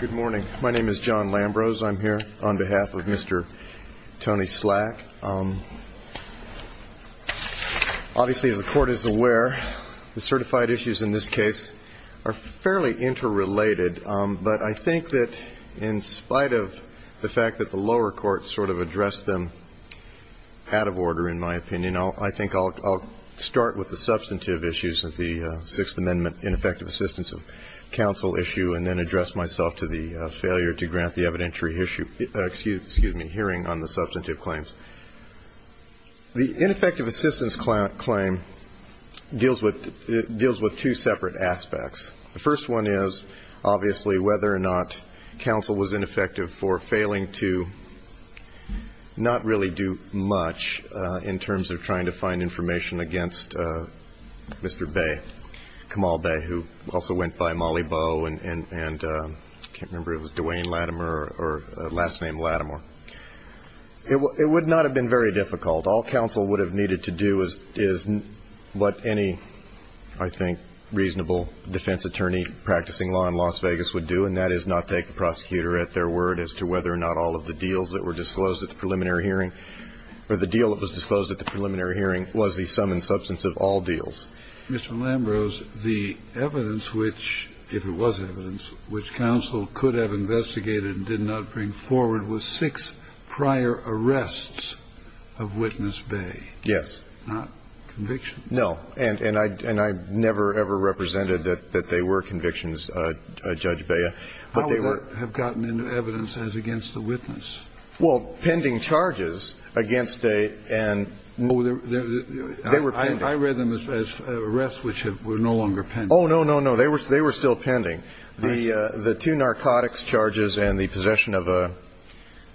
Good morning. My name is John Lambros. I'm here on behalf of Mr. Tony Slack. Obviously as the Court is aware, the certified issues in this case are fairly interrelated, but I think that in spite of the fact that the lower court sort of addressed them out of order, in my opinion, I think I'll start with the substantive issues of the Sixth Amendment in effective assistance of counsel. And then address myself to the failure to grant the evidentiary issue, excuse me, hearing on the substantive claims. The ineffective assistance claim deals with two separate aspects. The first one is obviously whether or not counsel was ineffective for failing to not really do much in terms of trying to find information against Mr. Bay, Kamal Bay, who also went by Molly Bow and I can't remember if it was Dwayne Latimer or last name Latimer. It would not have been very difficult. All counsel would have needed to do is what any, I think, reasonable defense attorney practicing law in Las Vegas would do, and that is not take the prosecutor at their word as to whether or not all of the deals that were disclosed at the preliminary hearing or the deal that was disclosed at the preliminary hearing was the sum and substance of all deals. Mr. Lambrose, the evidence which, if it was evidence, which counsel could have investigated and did not bring forward was six prior arrests of Witness Bay. Yes. Not convictions. No. And I never, ever represented that they were convictions, Judge Bea, but they were. How would that have gotten into evidence as against the witness? Well, pending charges against a and they were pending. I read them as arrests which were no longer pending. Oh, no, no, no. They were they were still pending. The the two narcotics charges and the possession of a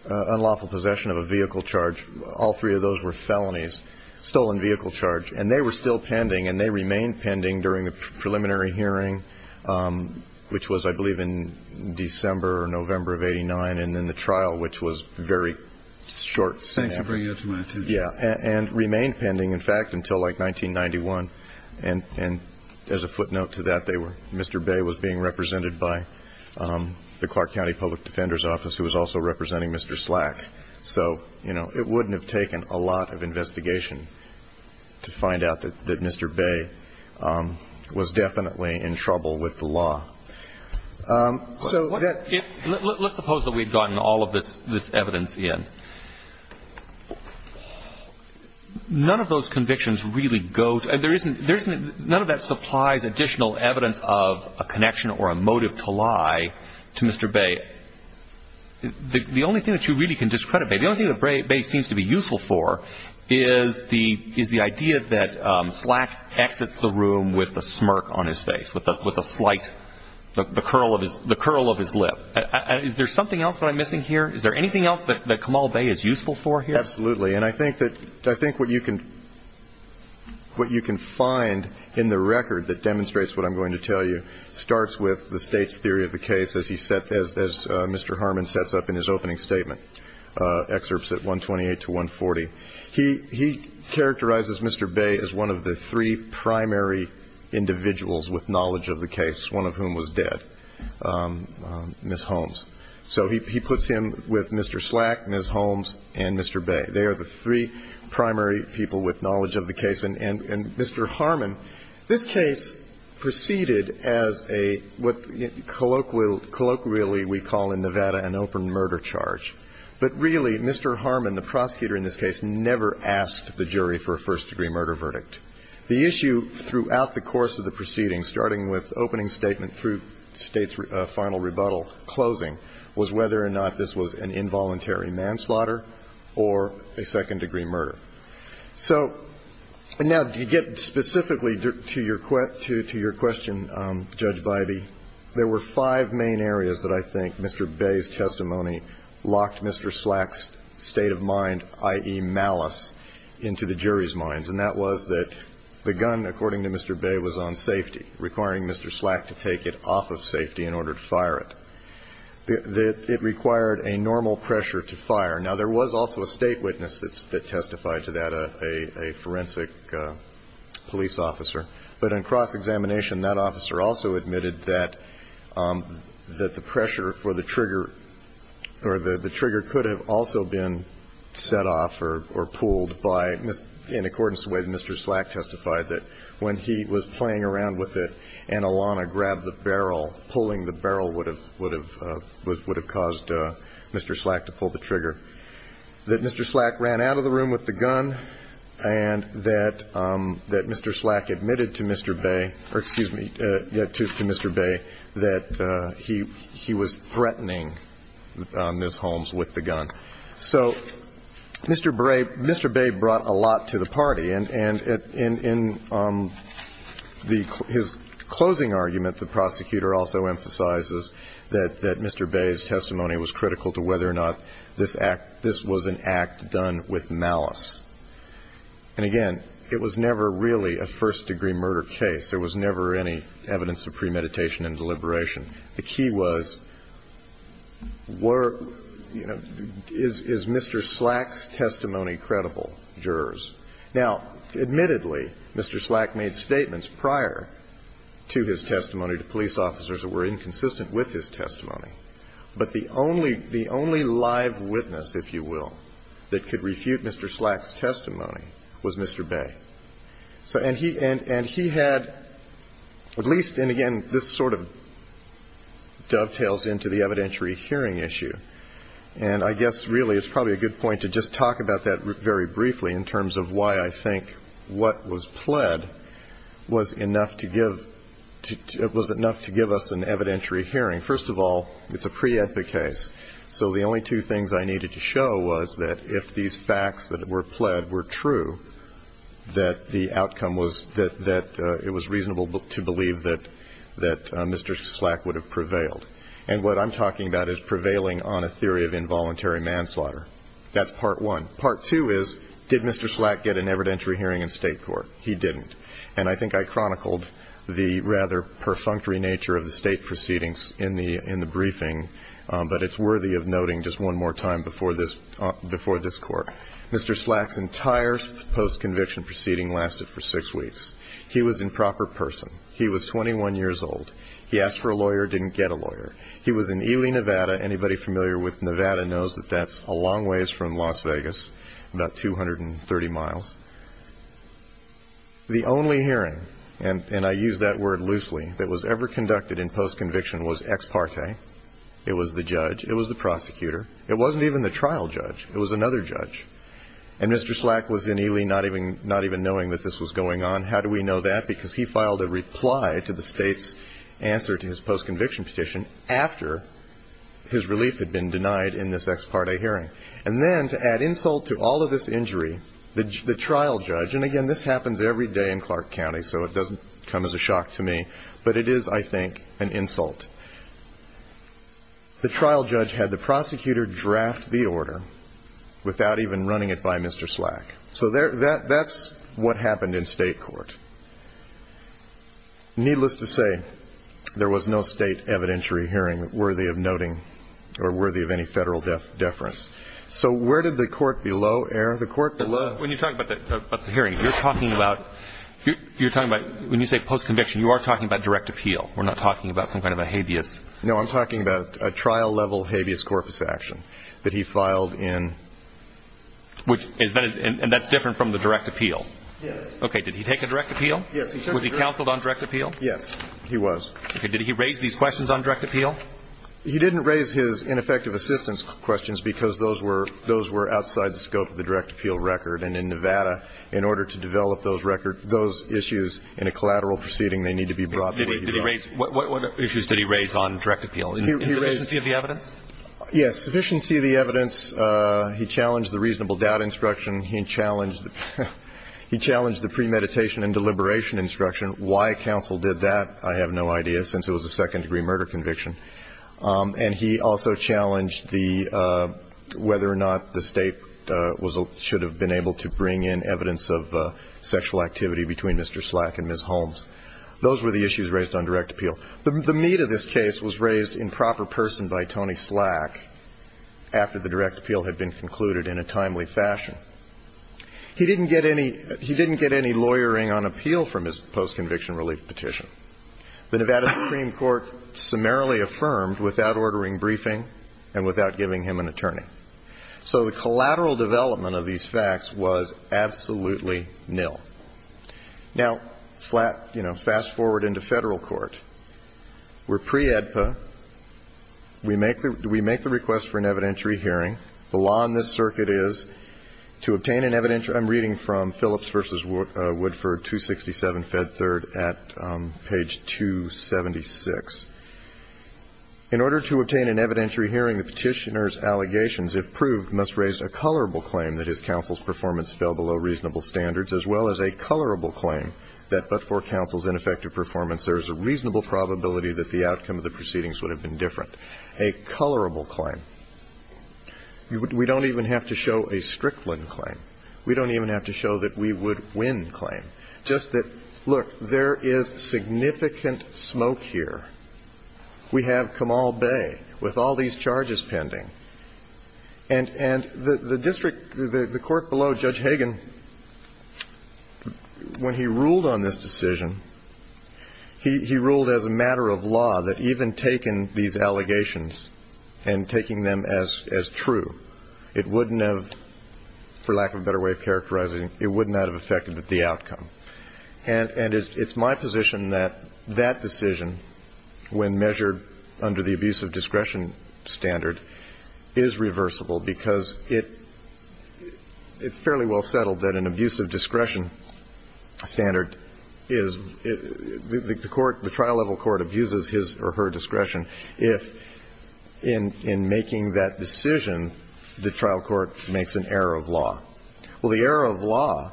unlawful possession of a vehicle charge. All three of those were felonies, stolen vehicle charge, and they were still pending and they remain pending during the preliminary hearing, which was, I believe, in December or November of 89. And then the trial, which was very short. Thanks for bringing it to my attention. Yeah. And remained pending, in fact, until like 1991. And as a footnote to that, they were Mr. Bay was being represented by the Clark County Public Defender's Office, who was also representing Mr. Slack. So, you know, it wouldn't have taken a lot of investigation to find out that Mr. Bay was definitely in trouble with the law. So let's suppose that we've gotten all of this, this evidence in. None of those convictions really go. And there isn't there's none of that supplies additional evidence of a connection or a motive to lie to Mr. Bay. The only thing that you really can discredit, the only thing that Bay seems to be useful for is the is the idea that Slack exits the room with a smirk on his face, with a with a slight the curl of his the curl of his lip. Is there something else that I'm missing here? Is there anything else that that Kamal Bay is useful for here? Absolutely. And I think that I think what you can what you can find in the record that demonstrates what I'm going to tell you starts with the state's theory of the case, as he said, as Mr. Harmon sets up in his opening statement excerpts at 128 to 140. He he characterizes Mr. Bay as one of the three primary individuals with knowledge of the case, one of whom was dead, Ms. Holmes. So he puts him with Mr. Slack, Ms. Holmes and Mr. Bay. They are the three primary people with knowledge of the case. And Mr. Harmon, this case proceeded as a what colloquial colloquially we call in Nevada an open murder charge. But really, Mr. Harmon, the prosecutor in this case, never asked the jury for a first degree murder verdict. The issue throughout the course of the proceedings, starting with opening statement through state's final rebuttal closing, was whether or not this was an involuntary manslaughter or a second degree murder. So now, to get specifically to your question, Judge Bybee, there were five main areas that I think Mr. Bay's testimony locked Mr. Slack's state of mind, i.e., malice, into the jury's minds. And that was that the gun, according to Mr. Bay, was on safety, requiring Mr. Slack to take it off of safety in order to fire it. Now, there was also a state witness that testified to that, a forensic police officer. But in cross-examination, that officer also admitted that the pressure for the trigger or the trigger could have also been set off or pulled by, in accordance with Mr. Slack testified that when he was playing around with it and Alana grabbed the barrel, pulling the barrel would have caused Mr. Slack to pull the trigger. That Mr. Slack ran out of the room with the gun and that Mr. Slack admitted to Mr. Bay or, excuse me, to Mr. Bay that he was threatening Ms. Holmes with the gun. So Mr. Bay brought a lot to the party. And in his closing argument, the prosecutor also emphasizes that Mr. Bay's testimony was critical to whether or not this act, this was an act done with malice. And, again, it was never really a first-degree murder case. There was never any evidence of premeditation and deliberation. The key was, were, you know, is Mr. Slack's testimony credible, jurors? Now, admittedly, Mr. Slack made statements prior to his testimony to police officers that were inconsistent with his testimony. But the only live witness, if you will, that could refute Mr. Slack's testimony was Mr. Bay. And he had at least, and, again, this sort of dovetails into the evidentiary hearing issue. And I guess really it's probably a good point to just talk about that very briefly in terms of why I think what was pled was enough to give us an evidentiary hearing. First of all, it's a pre-epic case. So the only two things I needed to show was that if these facts that were pled were true, that the outcome was that it was reasonable to believe that Mr. Slack would have prevailed. And what I'm talking about is prevailing on a theory of involuntary manslaughter. That's part one. Part two is, did Mr. Slack get an evidentiary hearing in State court? He didn't. And I think I chronicled the rather perfunctory nature of the State proceedings in the briefing, but it's worthy of noting just one more time before this Court. Mr. Slack's entire post-conviction proceeding lasted for six weeks. He was improper person. He was 21 years old. He asked for a lawyer, didn't get a lawyer. He was in Ely, Nevada. Anybody familiar with Nevada knows that that's a long ways from Las Vegas, about 230 miles. The only hearing, and I use that word loosely, that was ever conducted in post-conviction was ex parte. It was the judge. It was the prosecutor. It wasn't even the trial judge. It was another judge. And Mr. Slack was in Ely not even knowing that this was going on. How do we know that? Because he filed a reply to the State's answer to his post-conviction petition after his relief had been denied in this ex parte hearing. And then to add insult to all of this injury, the trial judge, and, again, this happens every day in Clark County, so it doesn't come as a shock to me, but it is, I think, an insult. The trial judge had the prosecutor draft the order without even running it by Mr. Slack. So that's what happened in state court. Needless to say, there was no state evidentiary hearing worthy of noting or worthy of any federal deference. So where did the court below err? The court below. When you're talking about the hearing, you're talking about when you say post-conviction, you are talking about direct appeal. We're not talking about some kind of a habeas. No, I'm talking about a trial-level habeas corpus action that he filed in. And that's different from the direct appeal? Yes. Okay. Did he take a direct appeal? Yes, he took a direct appeal. Was he counseled on direct appeal? Yes, he was. Okay. Did he raise these questions on direct appeal? He didn't raise his ineffective assistance questions because those were outside the scope of the direct appeal record. And in Nevada, in order to develop those issues in a collateral proceeding, they need to be brought the way he brought them. What issues did he raise on direct appeal? Insufficiency of the evidence? Yes, insufficiency of the evidence. He challenged the reasonable doubt instruction. He challenged the premeditation and deliberation instruction. Why counsel did that, I have no idea, since it was a second-degree murder conviction. And he also challenged whether or not the State should have been able to bring in evidence of sexual activity between Mr. Slack and Ms. Holmes. Those were the issues raised on direct appeal. The meat of this case was raised in proper person by Tony Slack after the direct appeal had been concluded in a timely fashion. He didn't get any lawyering on appeal from his post-conviction relief petition. The Nevada Supreme Court summarily affirmed without ordering briefing and without giving him an attorney. So the collateral development of these facts was absolutely nil. Now, flat, you know, fast-forward into Federal court. We're pre-AEDPA. We make the request for an evidentiary hearing. The law in this circuit is to obtain an evidentiary. I'm reading from Phillips v. Woodford, 267 Fed 3rd at page 276. In order to obtain an evidentiary hearing, the Petitioner's allegations, if proved, must raise a colorable claim that his counsel's performance fell below reasonable standards, as well as a colorable claim that, but for counsel's ineffective performance, there is a reasonable probability that the outcome of the proceedings would have been different. A colorable claim. We don't even have to show a Strickland claim. We don't even have to show that we would win claim. Just that, look, there is significant smoke here. We have Kamal Bay with all these charges pending. And the district, the court below Judge Hagan, when he ruled on this decision, he ruled as a matter of law that even taking these allegations and taking them as true, it wouldn't have, for lack of a better way of characterizing it, it would not have affected the outcome. And it's my position that that decision, when measured under the abuse of discretion standard, is reversible, because it's fairly well settled that an abuse of discretion standard is the court, the trial-level court abuses his or her discretion if, in making that decision, the trial court makes an error of law. Well, the error of law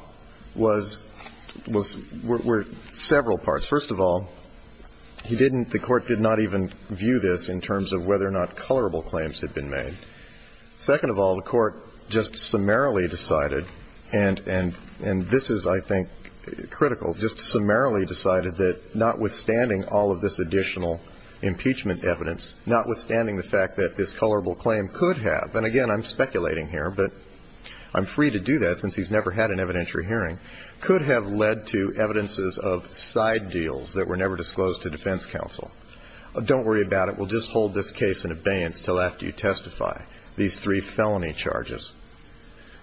was, were several parts. First of all, he didn't, the court did not even view this in terms of whether or not colorable claims had been made. Second of all, the court just summarily decided, and this is, I think, critical, just summarily decided that notwithstanding all of this additional impeachment evidence, notwithstanding the fact that this colorable claim could have, and again, I'm speculating here, but I'm free to do that since he's never had an evidentiary hearing, could have led to evidences of side deals that were never disclosed to defense counsel. Don't worry about it. We'll just hold this case in abeyance until after you testify, these three felony charges.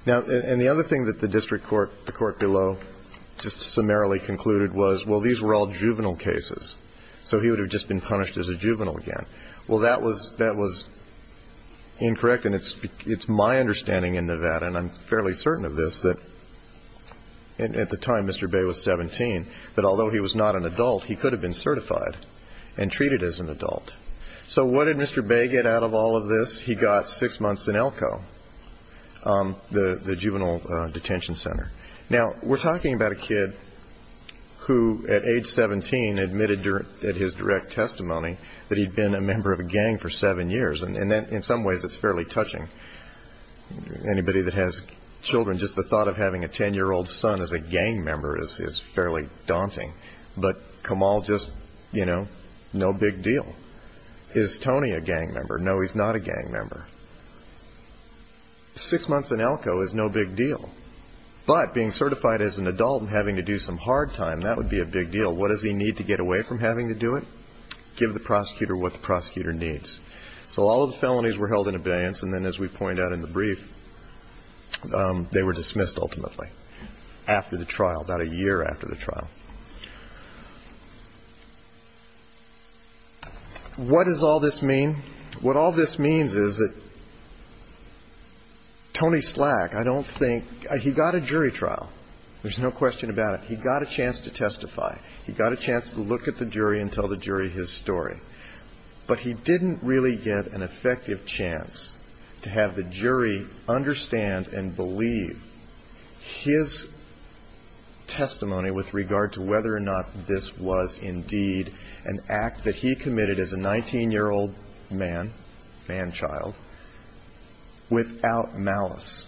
Now, and the other thing that the district court, the court below, just summarily concluded was, well, these were all juvenile cases, so he would have just been punished as a juvenile again. Well, that was, that was incorrect, and it's my understanding in Nevada, and I'm fairly certain of this, that at the time Mr. Bay was 17, that although he was not an adult, he could have been certified and treated as an adult. So what did Mr. Bay get out of all of this? He got six months in Elko, the juvenile detention center. Now, we're talking about a kid who, at age 17, admitted at his direct testimony that he'd been a member of a gang for seven years, and in some ways that's fairly touching. Anybody that has children, just the thought of having a 10-year-old son as a gang member is fairly daunting. But Kamal just, you know, no big deal. Is Tony a gang member? No, he's not a gang member. Six months in Elko is no big deal, but being certified as an adult and having to do some hard time, that would be a big deal. What does he need to get away from having to do it? Give the prosecutor what the prosecutor needs. So all of the felonies were held in abeyance, and then, as we point out in the brief, they were dismissed ultimately after the trial, about a year after the trial. What does all this mean? What all this means is that Tony Slack, I don't think he got a jury trial. There's no question about it. He got a chance to testify. He got a chance to look at the jury and tell the jury his story. But he didn't really get an effective chance to have the jury understand and believe his testimony with regard to whether or not this was indeed an act that he committed as a 19-year-old man, man-child, without malice.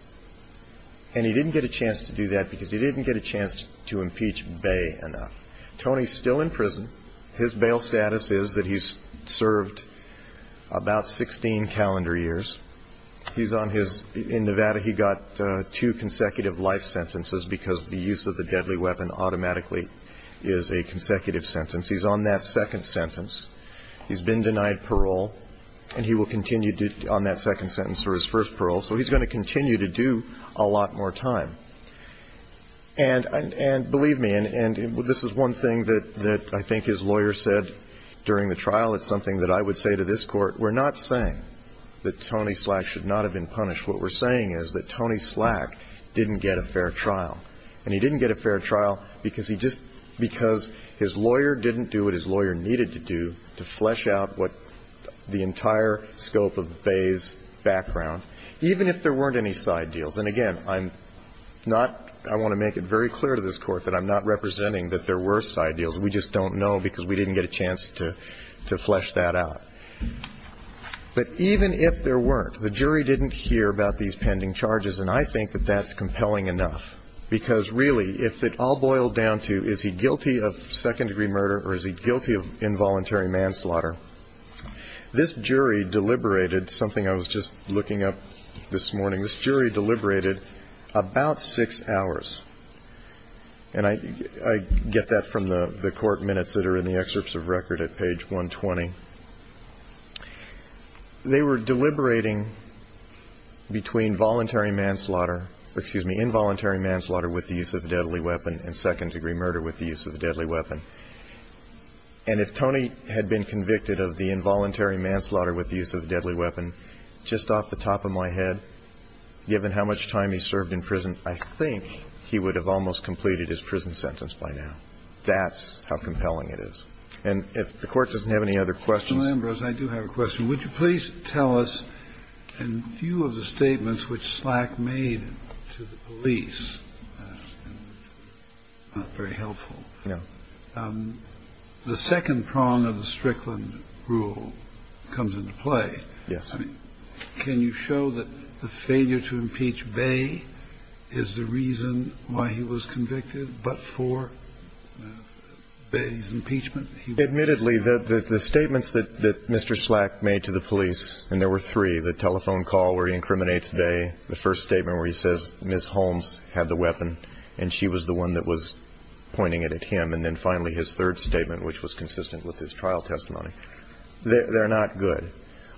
And he didn't get a chance to do that because he didn't get a chance to impeach Bay enough. Tony's still in prison. His bail status is that he's served about 16 calendar years. He's on his ñ in Nevada, he got two consecutive life sentences because the use of the deadly weapon automatically is a consecutive sentence. He's on that second sentence. He's been denied parole, and he will continue on that second sentence for his first parole. So he's going to continue to do a lot more time. And believe me, and this is one thing that I think his lawyer said during the trial. It's something that I would say to this Court. We're not saying that Tony Slack should not have been punished. What we're saying is that Tony Slack didn't get a fair trial. And he didn't get a fair trial because he just ñ because his lawyer didn't do what his lawyer needed to do to flesh out what the entire scope of Bay's background, even if there weren't any side deals. And again, I'm not ñ I want to make it very clear to this Court that I'm not representing that there were side deals. We just don't know because we didn't get a chance to flesh that out. But even if there weren't, the jury didn't hear about these pending charges, and I think that that's compelling enough because really, if it all boiled down to is he guilty of second-degree murder or is he guilty of involuntary manslaughter, this jury deliberated something I was just looking up this morning. This jury deliberated about six hours. And I get that from the court minutes that are in the excerpts of record at page 120. They were deliberating between voluntary manslaughter ñ excuse me, involuntary manslaughter with the use of a deadly weapon and second-degree murder with the use of a deadly weapon. And if Tony had been convicted of the involuntary manslaughter with the use of a deadly weapon, just off the top of my head, given how much time he served in prison, I think he would have almost completed his prison sentence by now. That's how compelling it is. And if the Court doesn't have any other questions. Kennedy. Mr. Lambros, I do have a question. Would you please tell us in view of the statements which Slack made to the police ñ not very helpful ñ the second prong of the Strickland rule comes into play. Yes. I mean, can you show that the failure to impeach Bay is the reason why he was convicted but for Bay's impeachment? Admittedly, the statements that Mr. Slack made to the police ñ and there were three, the telephone call where he incriminates Bay, the first statement where he says Ms. Holmes had the weapon and she was the one that was pointing it at him, and then finally his third statement, which was consistent with his trial testimony. They're not good.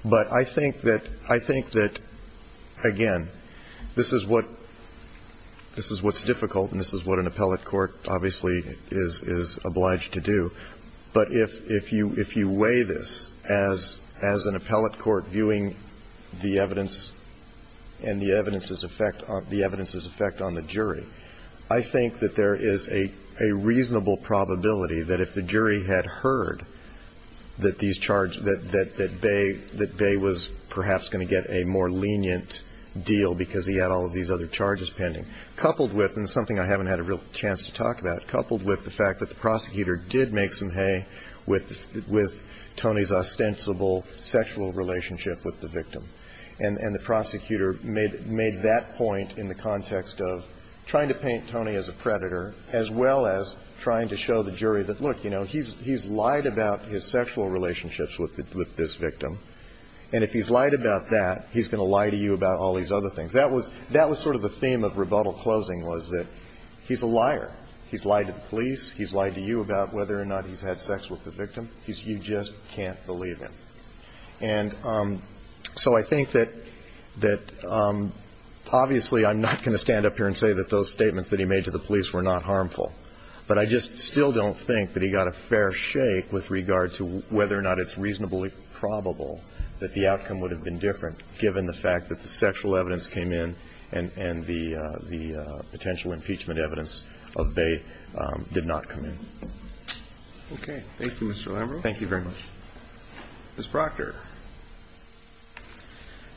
But I think that ñ I think that, again, this is what ñ this is what's difficult and this is what an appellate court obviously is obliged to do. But if you weigh this as an appellate court viewing the evidence and the evidence's effect on the jury, I think that there is a reasonable probability that if the jury had heard that these charges ñ that Bay was perhaps going to get a more lenient deal because he had all of these other charges pending, coupled with ñ and it's something I haven't had a real chance to talk about ñ coupled with the fact that the prosecutor did make some hay with Tony's ostensible sexual relationship with the victim, and the prosecutor made that point in the context of trying to paint Tony as a predator as well as trying to show the jury that, look, you know, he's lied about his sexual relationships with this victim, and if he's lied about that, he's going to lie to you about all these other things. That was sort of the theme of rebuttal closing was that he's a liar. He's lied to the police. He's lied to you about whether or not he's had sex with the victim. He's ñ you just can't believe him. And so I think that ñ that, obviously, I'm not going to stand up here and say that those statements that he made to the police were not harmful. But I just still don't think that he got a fair shake with regard to whether or not it's reasonably probable that the outcome would have been different given the fact that the sexual evidence came in and the potential impeachment evidence of Bay did not come in. Okay. Thank you, Mr. Lambrou. Thank you very much. Ms. Proctor.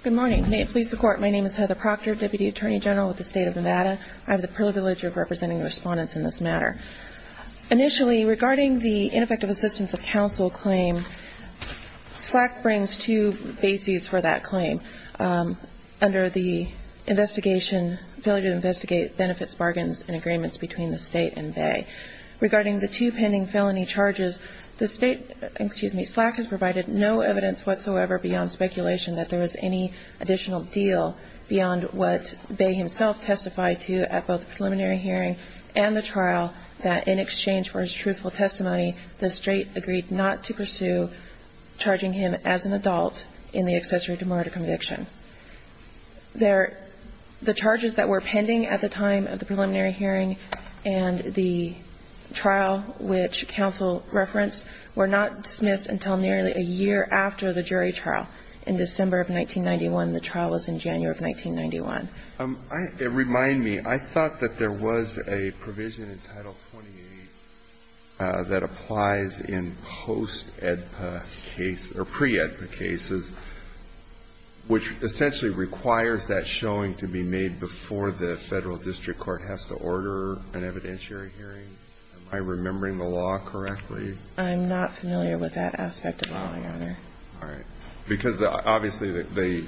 Good morning. May it please the Court. My name is Heather Proctor, Deputy Attorney General with the State of Nevada. I have the privilege of representing the Respondents in this matter. Initially, regarding the ineffective assistance of counsel claim, SLAC brings two bases for that claim. Under the investigation, failure to investigate benefits bargains and agreements between the State and Bay. Regarding the two pending felony charges, the State ñ excuse me, SLAC has provided no evidence whatsoever beyond speculation that there was any additional deal beyond what Bay himself testified to at both the preliminary hearing and the trial that in exchange for his truthful testimony, the State agreed not to pursue charging him as an adult in the accessory to murder conviction. There ñ the charges that were pending at the time of the preliminary hearing and the trial which counsel referenced were not dismissed until nearly a year after the jury trial. In December of 1991, the trial was in January of 1991. Remind me, I thought that there was a provision in Title 28 that applies in post-EDPA case ñ or pre-EDPA cases, which essentially requires that showing to be made before the Federal District Court has to order an evidentiary hearing. Am I remembering the law correctly? I'm not familiar with that aspect at all, Your Honor. All right. Because obviously the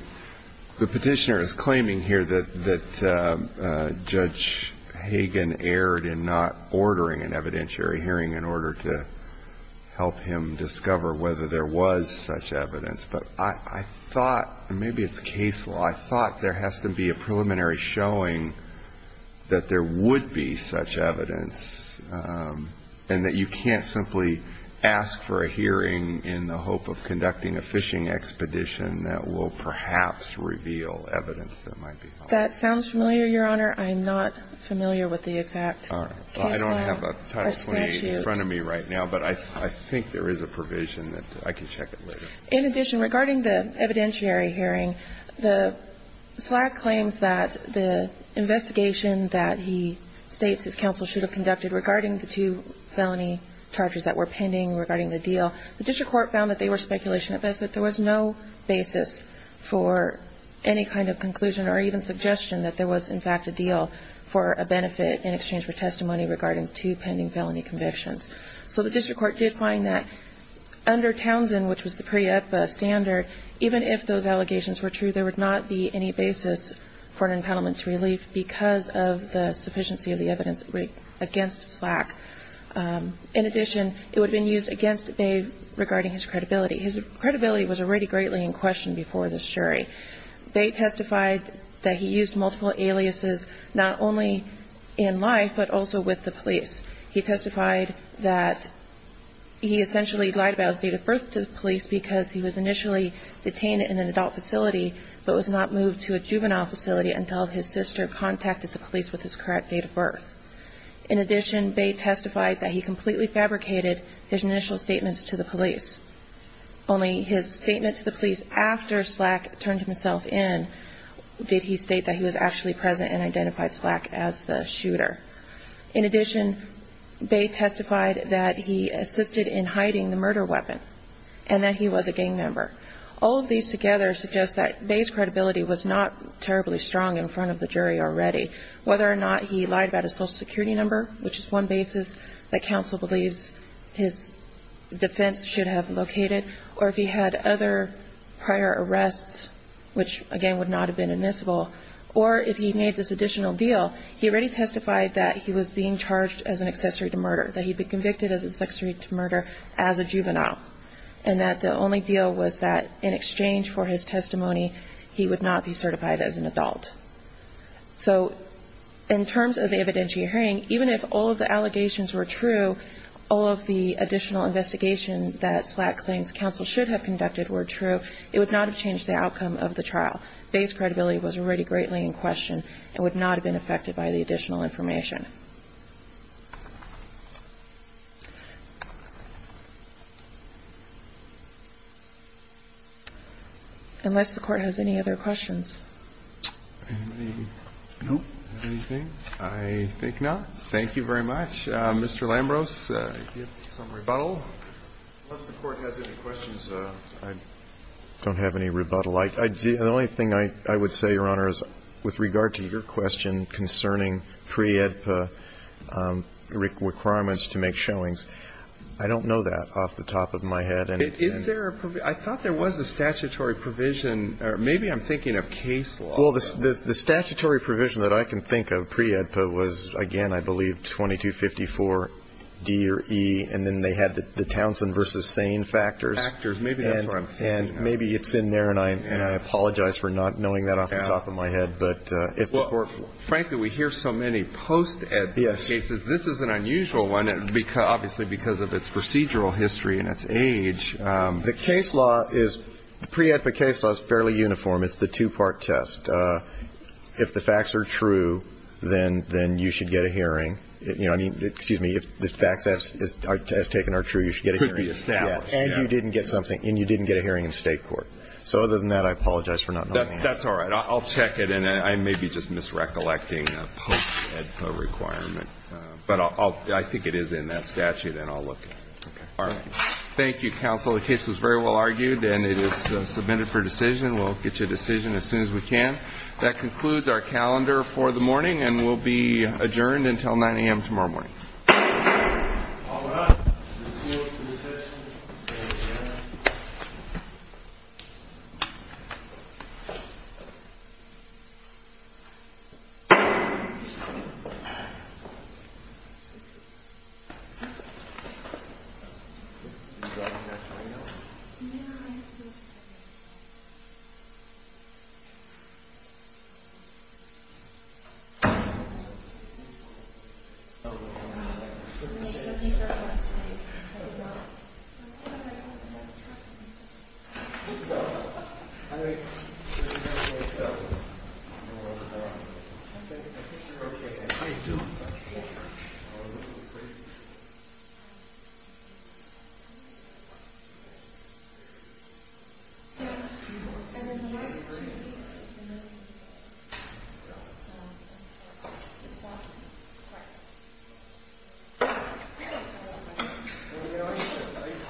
petitioner is claiming here that Judge Hagen erred in not ordering an evidentiary hearing in order to help him discover whether there was such evidence. But I thought ñ and maybe it's case law ñ I thought there has to be a preliminary showing that there would be such evidence and that you can't simply ask for a hearing in the hope of conducting a fishing expedition that will perhaps reveal evidence that might be false. That sounds familiar, Your Honor. I'm not familiar with the exact case law. All right. Well, I don't have a Title 28 in front of me right now, but I think there is a provision that ñ I can check it later. In addition, regarding the evidentiary hearing, SLAC claims that the investigation that he states his counsel should have conducted regarding the two felony charges that were pending regarding the deal, the district court found that they were speculation at best, that there was no basis for any kind of conclusion or even suggestion that there was, in fact, a deal for a benefit in exchange for testimony regarding two pending felony convictions. So the district court did find that under Townsend, which was the pre-EPA standard, even if those allegations were true, there would not be any basis for an impoundment to relief because of the sufficiency of the evidence against SLAC. In addition, it would have been used against Bay regarding his credibility. His credibility was already greatly in question before this jury. Bay testified that he used multiple aliases not only in life but also with the police. He testified that he essentially lied about his date of birth to the police because he was initially detained in an adult facility but was not moved to a juvenile facility until his sister contacted the police with his correct date of birth. In addition, Bay testified that he completely fabricated his initial statements to the police. Only his statement to the police after SLAC turned himself in did he state that he was actually present and identified SLAC as the shooter. In addition, Bay testified that he assisted in hiding the murder weapon and that he was a gang member. All of these together suggest that Bay's credibility was not terribly strong in front of the jury already. Whether or not he lied about his social security number, which is one basis that the defense should have located, or if he had other prior arrests, which, again, would not have been admissible, or if he made this additional deal, he already testified that he was being charged as an accessory to murder, that he'd been convicted as an accessory to murder as a juvenile, and that the only deal was that in exchange for his testimony, he would not be certified as an adult. So in terms of the evidentiary hearing, even if all of the allegations were true, all of the additional investigation that SLAC claims counsel should have conducted were true, it would not have changed the outcome of the trial. Bay's credibility was already greatly in question and would not have been affected by the additional information. Unless the Court has any other questions. No. Anything? I think not. Thank you very much. Mr. Lambros, do you have some rebuttal? Unless the Court has any questions, I don't have any rebuttal. The only thing I would say, Your Honor, is with regard to your question concerning pre-AEDPA requirements to make showings, I don't know that off the top of my head. Is there a provision? I thought there was a statutory provision. Maybe I'm thinking of case law. Well, the statutory provision that I can think of, pre-AEDPA, was, again, I believe, 2254 D or E, and then they had the Townsend v. Sane factors. Factors. Maybe that's where I'm thinking. And maybe it's in there, and I apologize for not knowing that off the top of my head. But if the Court ---- Well, frankly, we hear so many post-AEDPA cases. This is an unusual one, obviously because of its procedural history and its age. The case law is ñ the pre-AEDPA case law is fairly uniform. It's the two-part test. If the facts are true, then you should get a hearing. You know, I mean, excuse me. If the facts as taken are true, you should get a hearing. It could be established. And you didn't get something, and you didn't get a hearing in State court. So other than that, I apologize for not knowing that. That's all right. I'll check it, and I may be just misrecollecting a post-AEDPA requirement. But I think it is in that statute, and I'll look at it. All right. Thank you, counsel. The case was very well argued, and it is submitted for decision. We'll get you a decision as soon as we can. That concludes our calendar for the morning, and we'll be adjourned until 9 a.m. tomorrow morning.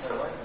Thank you.